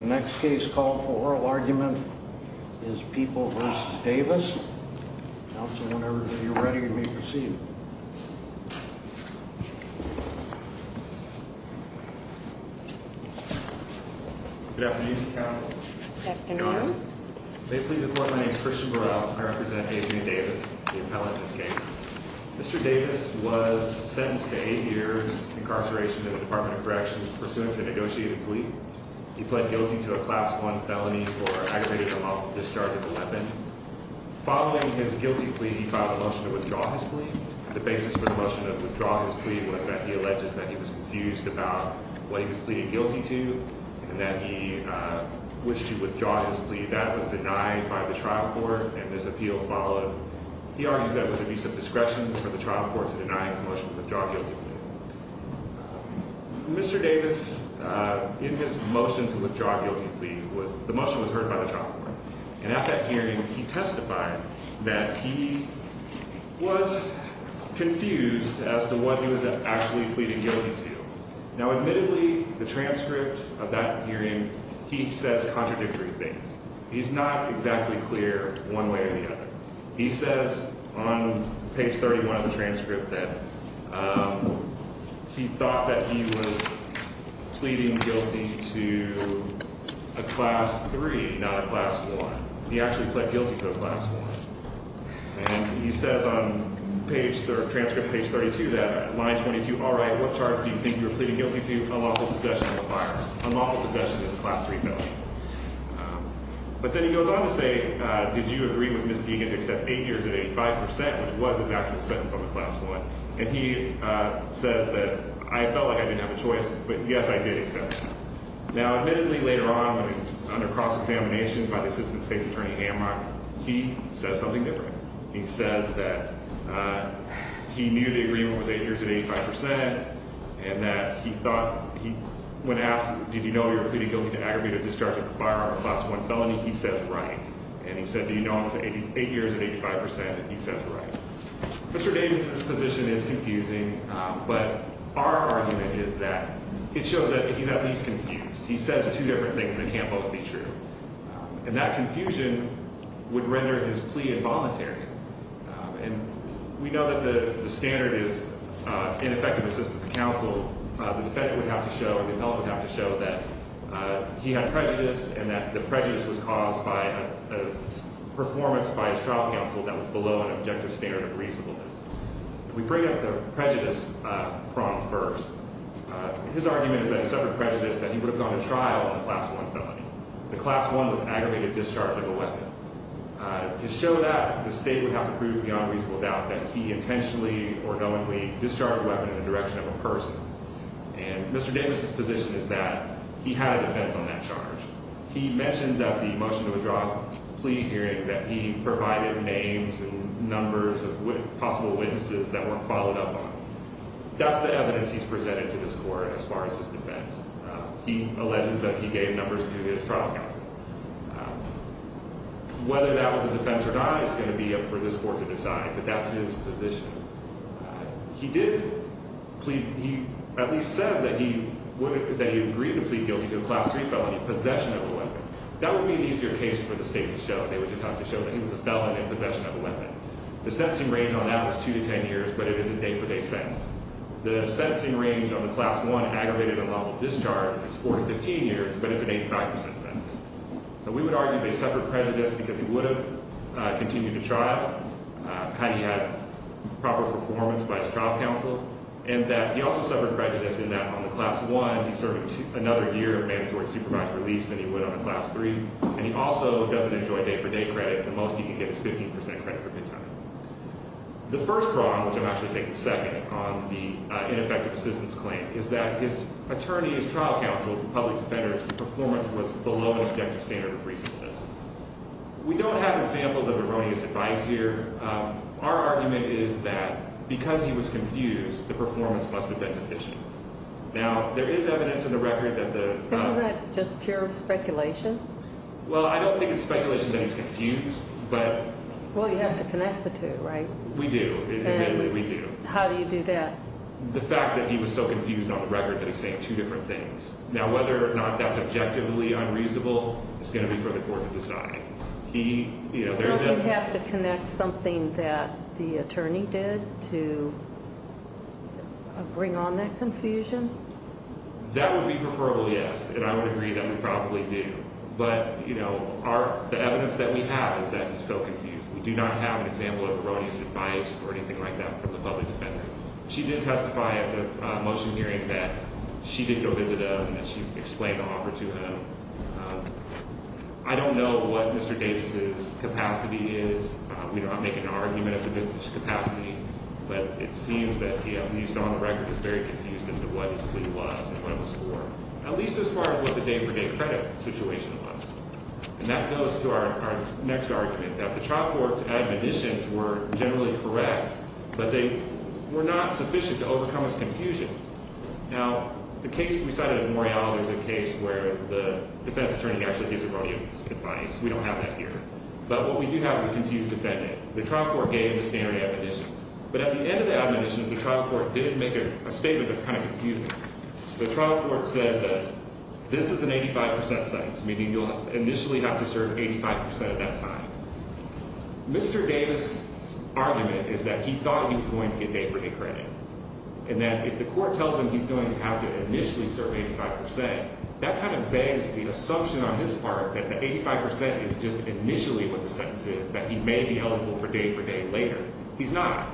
The next case called for oral argument is People v. Davis. Counsel, whenever you're ready, you may proceed. Good afternoon, counsel. Good afternoon. Your Honor, may it please the Court, my name is Christian Burrell. I represent Adrian Davis, the appellant in this case. Mr. Davis was sentenced to 8 years incarceration in the Department of Corrections, pursuant to a negotiated plea. He pled guilty to a Class I felony for aggravating a lawful discharge of a weapon. Following his guilty plea, he filed a motion to withdraw his plea. The basis for the motion to withdraw his plea was that he alleges that he was confused about what he was pleading guilty to and that he wished to withdraw his plea. That was denied by the trial court, and this appeal followed. He argues that it was abuse of discretion for the trial court to deny his motion to withdraw his guilty plea. Mr. Davis, in his motion to withdraw his guilty plea, the motion was heard by the trial court, and at that hearing, he testified that he was confused as to what he was actually pleading guilty to. Now, admittedly, the transcript of that hearing, he says contradictory things. He's not exactly clear one way or the other. He says on page 31 of the transcript that he thought that he was pleading guilty to a Class III, not a Class I. He actually pled guilty to a Class I. And he says on page, or transcript page 32, that line 22, all right, what charge do you think you're pleading guilty to? Unlawful possession of a firearm. Unlawful possession is a Class III felony. But then he goes on to say, did you agree with Ms. Deegan to accept eight years at 85 percent, which was his actual sentence on the Class I? And he says that I felt like I didn't have a choice, but yes, I did accept it. Now, admittedly, later on, under cross-examination by the assistant state's attorney, Hamlock, he says something different. He says that he knew the agreement was eight years at 85 percent, and that he thought, he went after, did you know you were pleading guilty to aggravated discharge of a firearm in a Class I felony? He says, right. And he said, do you know I was eight years at 85 percent? And he says, right. Mr. Davis's position is confusing, but our argument is that it shows that he's at least confused. He says two different things that can't both be true. And that confusion would render his plea involuntary. And we know that the standard is ineffective assistance to counsel. The defendant would have to show and the appellant would have to show that he had prejudice and that the prejudice was caused by a performance by his trial counsel that was below an objective standard of reasonableness. We bring up the prejudice problem first. His argument is that he suffered prejudice, that he would have gone to trial on a Class I felony. The Class I was aggravated discharge of a weapon. To show that, the state would have to prove beyond reasonable doubt that he intentionally or knowingly discharged a weapon in the direction of a person. And Mr. Davis's position is that he had a defense on that charge. He mentioned at the motion to withdraw plea hearing that he provided names and numbers of possible witnesses that weren't followed up on. That's the evidence he's presented to this court as far as his defense. He alleges that he gave numbers to his trial counsel. Whether that was a defense or not is going to be up for this court to decide, but that's his position. He did at least say that he agreed to plead guilty to a Class III felony, possession of a weapon. That would be an easier case for the state to show. They would just have to show that he was a felon in possession of a weapon. The sentencing range on that was 2 to 10 years, but it is a day-for-day sentence. The sentencing range on the Class I aggravated and lawful discharge is 4 to 15 years, but it's an 85% sentence. So we would argue they suffered prejudice because he would have continued to trial. He had proper performance by his trial counsel. And that he also suffered prejudice in that on the Class I, he served another year of mandatory supervised release than he would on a Class III. And he also doesn't enjoy day-for-day credit. The most he could get is 15% credit for penalty. The first problem, which I'm actually taking second on the ineffective assistance claim, is that his attorney's trial counsel, the public defender's performance was below the subjective standard of reasonableness. We don't have examples of erroneous advice here. Our argument is that because he was confused, the performance must have been deficient. Now, there is evidence in the record that the… Isn't that just pure speculation? Well, I don't think it's speculation that he's confused, but… Well, you have to connect the two, right? We do. Admittedly, we do. And how do you do that? The fact that he was so confused on the record that he's saying two different things. Now, whether or not that's objectively unreasonable is going to be for the court to decide. Don't you have to connect something that the attorney did to bring on that confusion? That would be preferable, yes. And I would agree that we probably do. But, you know, the evidence that we have is that he's so confused. We do not have an example of erroneous advice or anything like that from the public defender. She did testify at the motion hearing that she did go visit him and she explained the offer to him. I don't know what Mr. Davis's capacity is. We're not making an argument of his capacity, but it seems that he, at least on the record, is very confused as to what his plea was and what it was for. At least as far as what the day-for-day credit situation was. And that goes to our next argument, that the trial court's admonitions were generally correct, but they were not sufficient to overcome his confusion. Now, the case we cited of Morial, there's a case where the defense attorney actually gives erroneous advice. We don't have that here. But what we do have is a confused defendant. The trial court gave the standard admonitions. But at the end of the admonition, the trial court didn't make a statement that's kind of confusing. The trial court said that this is an 85% sentence, meaning you'll initially have to serve 85% of that time. Mr. Davis's argument is that he thought he was going to get day-for-day credit, and that if the court tells him he's going to have to initially serve 85%, that kind of begs the assumption on his part that the 85% is just initially what the sentence is, that he may be eligible for day-for-day later. He's not.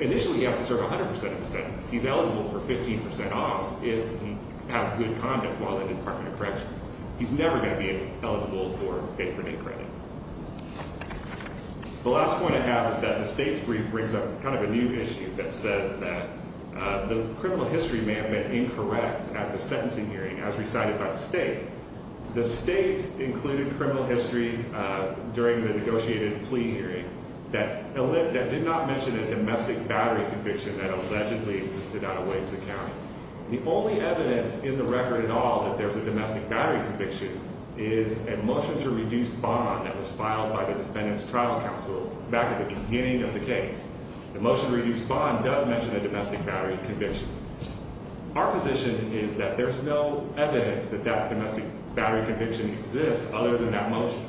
Initially, he has to serve 100% of the sentence. He's eligible for 15% off if he has good conduct while in the Department of Corrections. He's never going to be eligible for day-for-day credit. The last point I have is that the state's brief brings up kind of a new issue that says that the criminal history may have been incorrect at the sentencing hearing, as recited by the state. The state included criminal history during the negotiated plea hearing that did not mention a domestic battery conviction that allegedly existed out of Williamson County. The only evidence in the record at all that there's a domestic battery conviction is a motion to reduce bond that was filed by the defendant's trial counsel back at the beginning of the case. The motion to reduce bond does mention a domestic battery conviction. Our position is that there's no evidence that that domestic battery conviction exists other than that motion,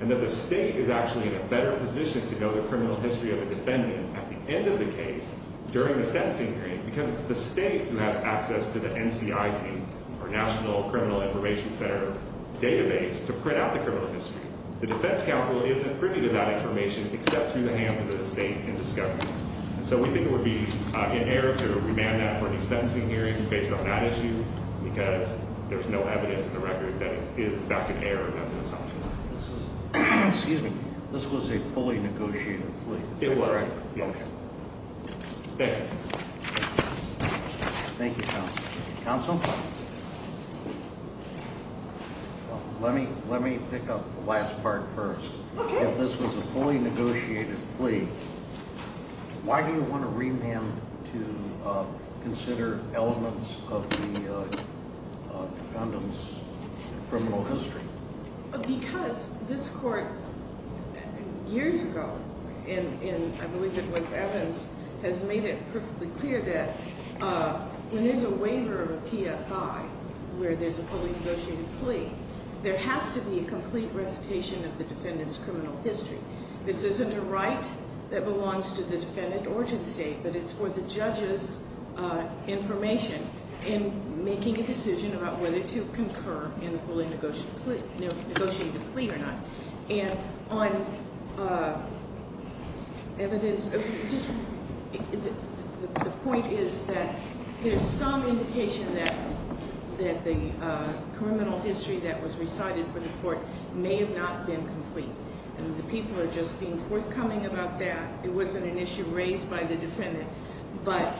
and that the state is actually in a better position to know the criminal history of the defendant at the end of the case during the sentencing hearing because it's the state who has access to the NCIC, or National Criminal Information Center, database to print out the criminal history. The defense counsel isn't privy to that information except through the hands of the state in discovery. And so we think it would be in error to remand that for any sentencing hearing based on that issue because there's no evidence in the record that it is in fact an error and that's an assumption. This is, excuse me, this was a fully negotiated plea? It was, yes. Okay. Thank you. Thank you, counsel. Counsel, let me pick up the last part first. Okay. If this was a fully negotiated plea, why do you want to remand to consider elements of the defendant's criminal history? Because this court, years ago, in I believe it was Evans, has made it perfectly clear that when there's a waiver of a PSI, where there's a fully negotiated plea, there has to be a complete recitation of the defendant's criminal history. This isn't a right that belongs to the defendant or to the state, but it's for the judge's information in making a decision about whether to concur in the fully negotiated plea or not. And on evidence, just the point is that there's some indication that the criminal history that was recited for the court may have not been complete. And the people are just being forthcoming about that. It wasn't an issue raised by the defendant. But,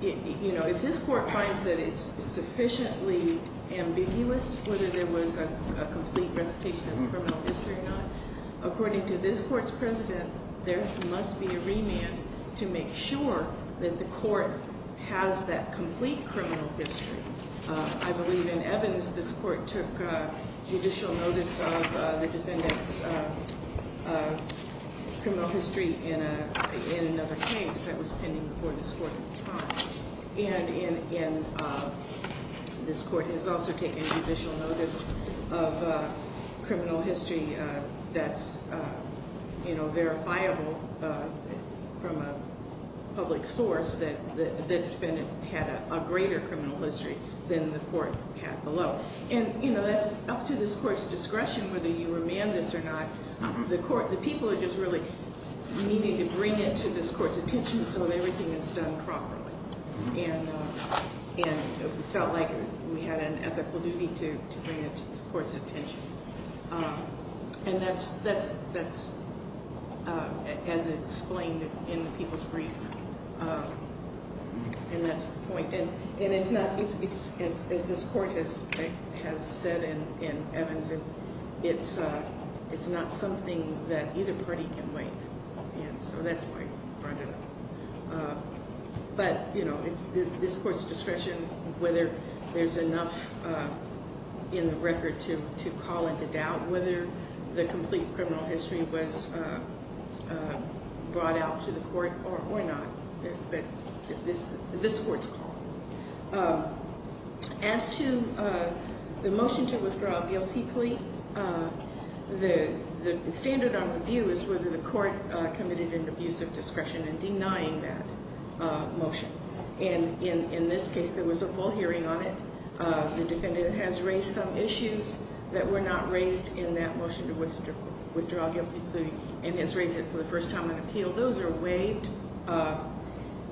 you know, if this court finds that it's sufficiently ambiguous whether there was a complete recitation of the criminal history or not, according to this court's president, there must be a remand to make sure that the court has that complete criminal history. I believe in Evans, this court took judicial notice of the defendant's criminal history in another case that was pending before this court at the time. And this court has also taken judicial notice of criminal history that's, you know, verifiable from a public source that the defendant had a greater criminal history than the court had below. And, you know, that's up to this court's discretion whether you remand this or not. The people are just really needing to bring it to this court's attention so that everything is done properly. And it felt like we had an ethical duty to bring it to this court's attention. And that's as explained in the people's brief. And that's the point. And it's not, as this court has said in Evans, it's not something that either party can make. And so that's why we brought it up. But, you know, it's this court's discretion whether there's enough in the record to call into doubt whether the complete criminal history was brought out to the court or not. But this court's call. As to the motion to withdraw a guilty plea, the standard on review is whether the court committed an abuse of discretion in denying that motion. And in this case, there was a full hearing on it. The defendant has raised some issues that were not raised in that motion to withdraw a guilty plea. And has raised it for the first time on appeal. Those are waived.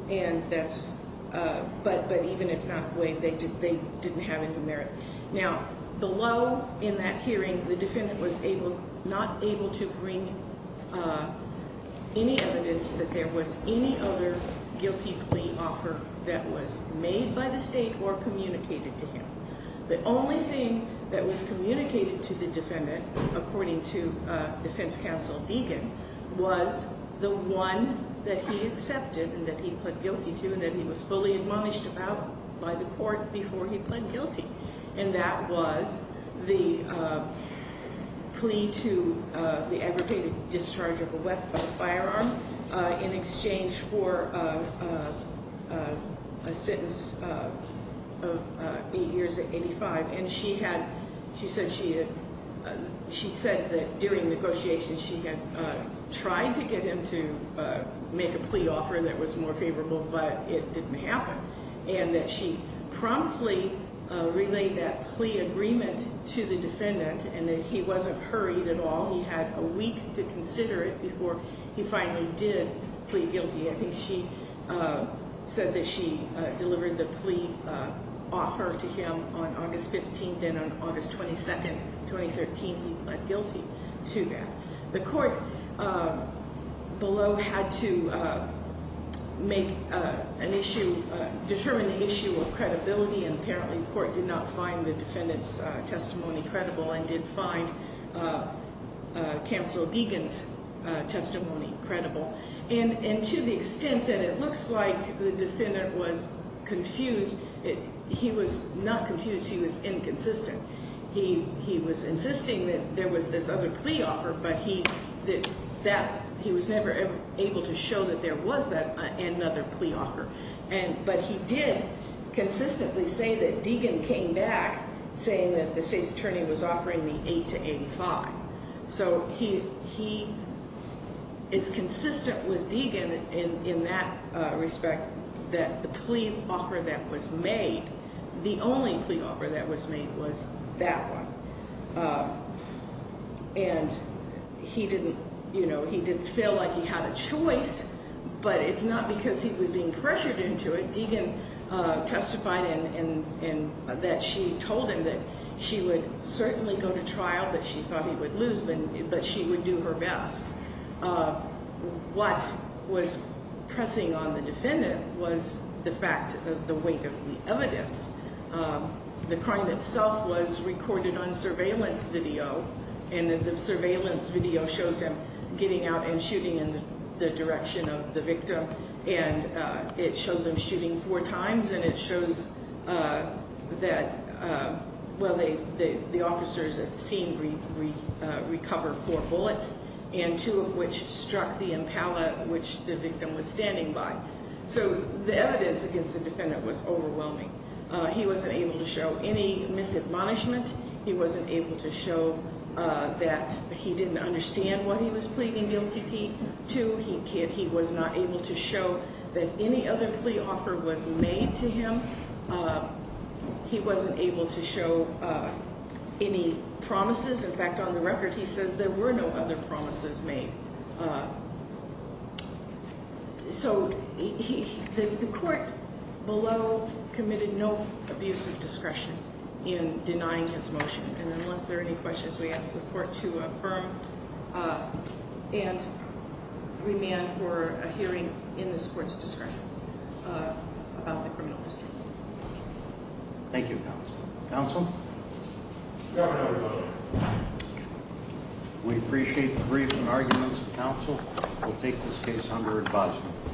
And that's, but even if not waived, they didn't have any merit. Now, below in that hearing, the defendant was not able to bring any evidence that there was any other guilty plea offer that was made by the state or communicated to him. The only thing that was communicated to the defendant, according to defense counsel Deegan, was the one that he accepted and that he pled guilty to. And that he was fully admonished about by the court before he pled guilty. And that was the plea to the aggravated discharge of a weapon, a firearm, in exchange for a sentence of eight years to 85. And she had, she said she had, she said that during negotiations she had tried to get him to make a plea offer that was more favorable, but it didn't happen. And that she promptly relayed that plea agreement to the defendant. And that he wasn't hurried at all. He had a week to consider it before he finally did plea guilty. I think she said that she delivered the plea offer to him on August 15th. And on August 22nd, 2013, he pled guilty to that. The court below had to make an issue, determine the issue of credibility. And apparently the court did not find the defendant's testimony credible and did find counsel Deegan's testimony credible. And to the extent that it looks like the defendant was confused, he was not confused, he was inconsistent. He was insisting that there was this other plea offer, but he was never able to show that there was another plea offer. But he did consistently say that Deegan came back saying that the state's attorney was offering the eight to 85. So he is consistent with Deegan in that respect that the plea offer that was made, the only plea offer that was made was that one. And he didn't feel like he had a choice, but it's not because he was being pressured into it. Deegan testified that she told him that she would certainly go to trial, but she thought he would lose, but she would do her best. What was pressing on the defendant was the fact of the weight of the evidence. The crime itself was recorded on surveillance video, and the surveillance video shows him getting out and shooting in the direction of the victim. And it shows him shooting four times, and it shows that the officers at the scene recovered four bullets, and two of which struck the impala which the victim was standing by. So the evidence against the defendant was overwhelming. He wasn't able to show any misadmonishment. He wasn't able to show that he didn't understand what he was pleading guilty to. He was not able to show that any other plea offer was made to him. He wasn't able to show any promises. In fact, on the record, he says there were no other promises made. So the court below committed no abuse of discretion in denying his motion. And unless there are any questions, we ask the court to affirm. And remand for a hearing in this court's discretion about the criminal history. Thank you, counsel. Counsel? Governor, we appreciate the briefs and arguments of counsel. We'll take this case under advisement.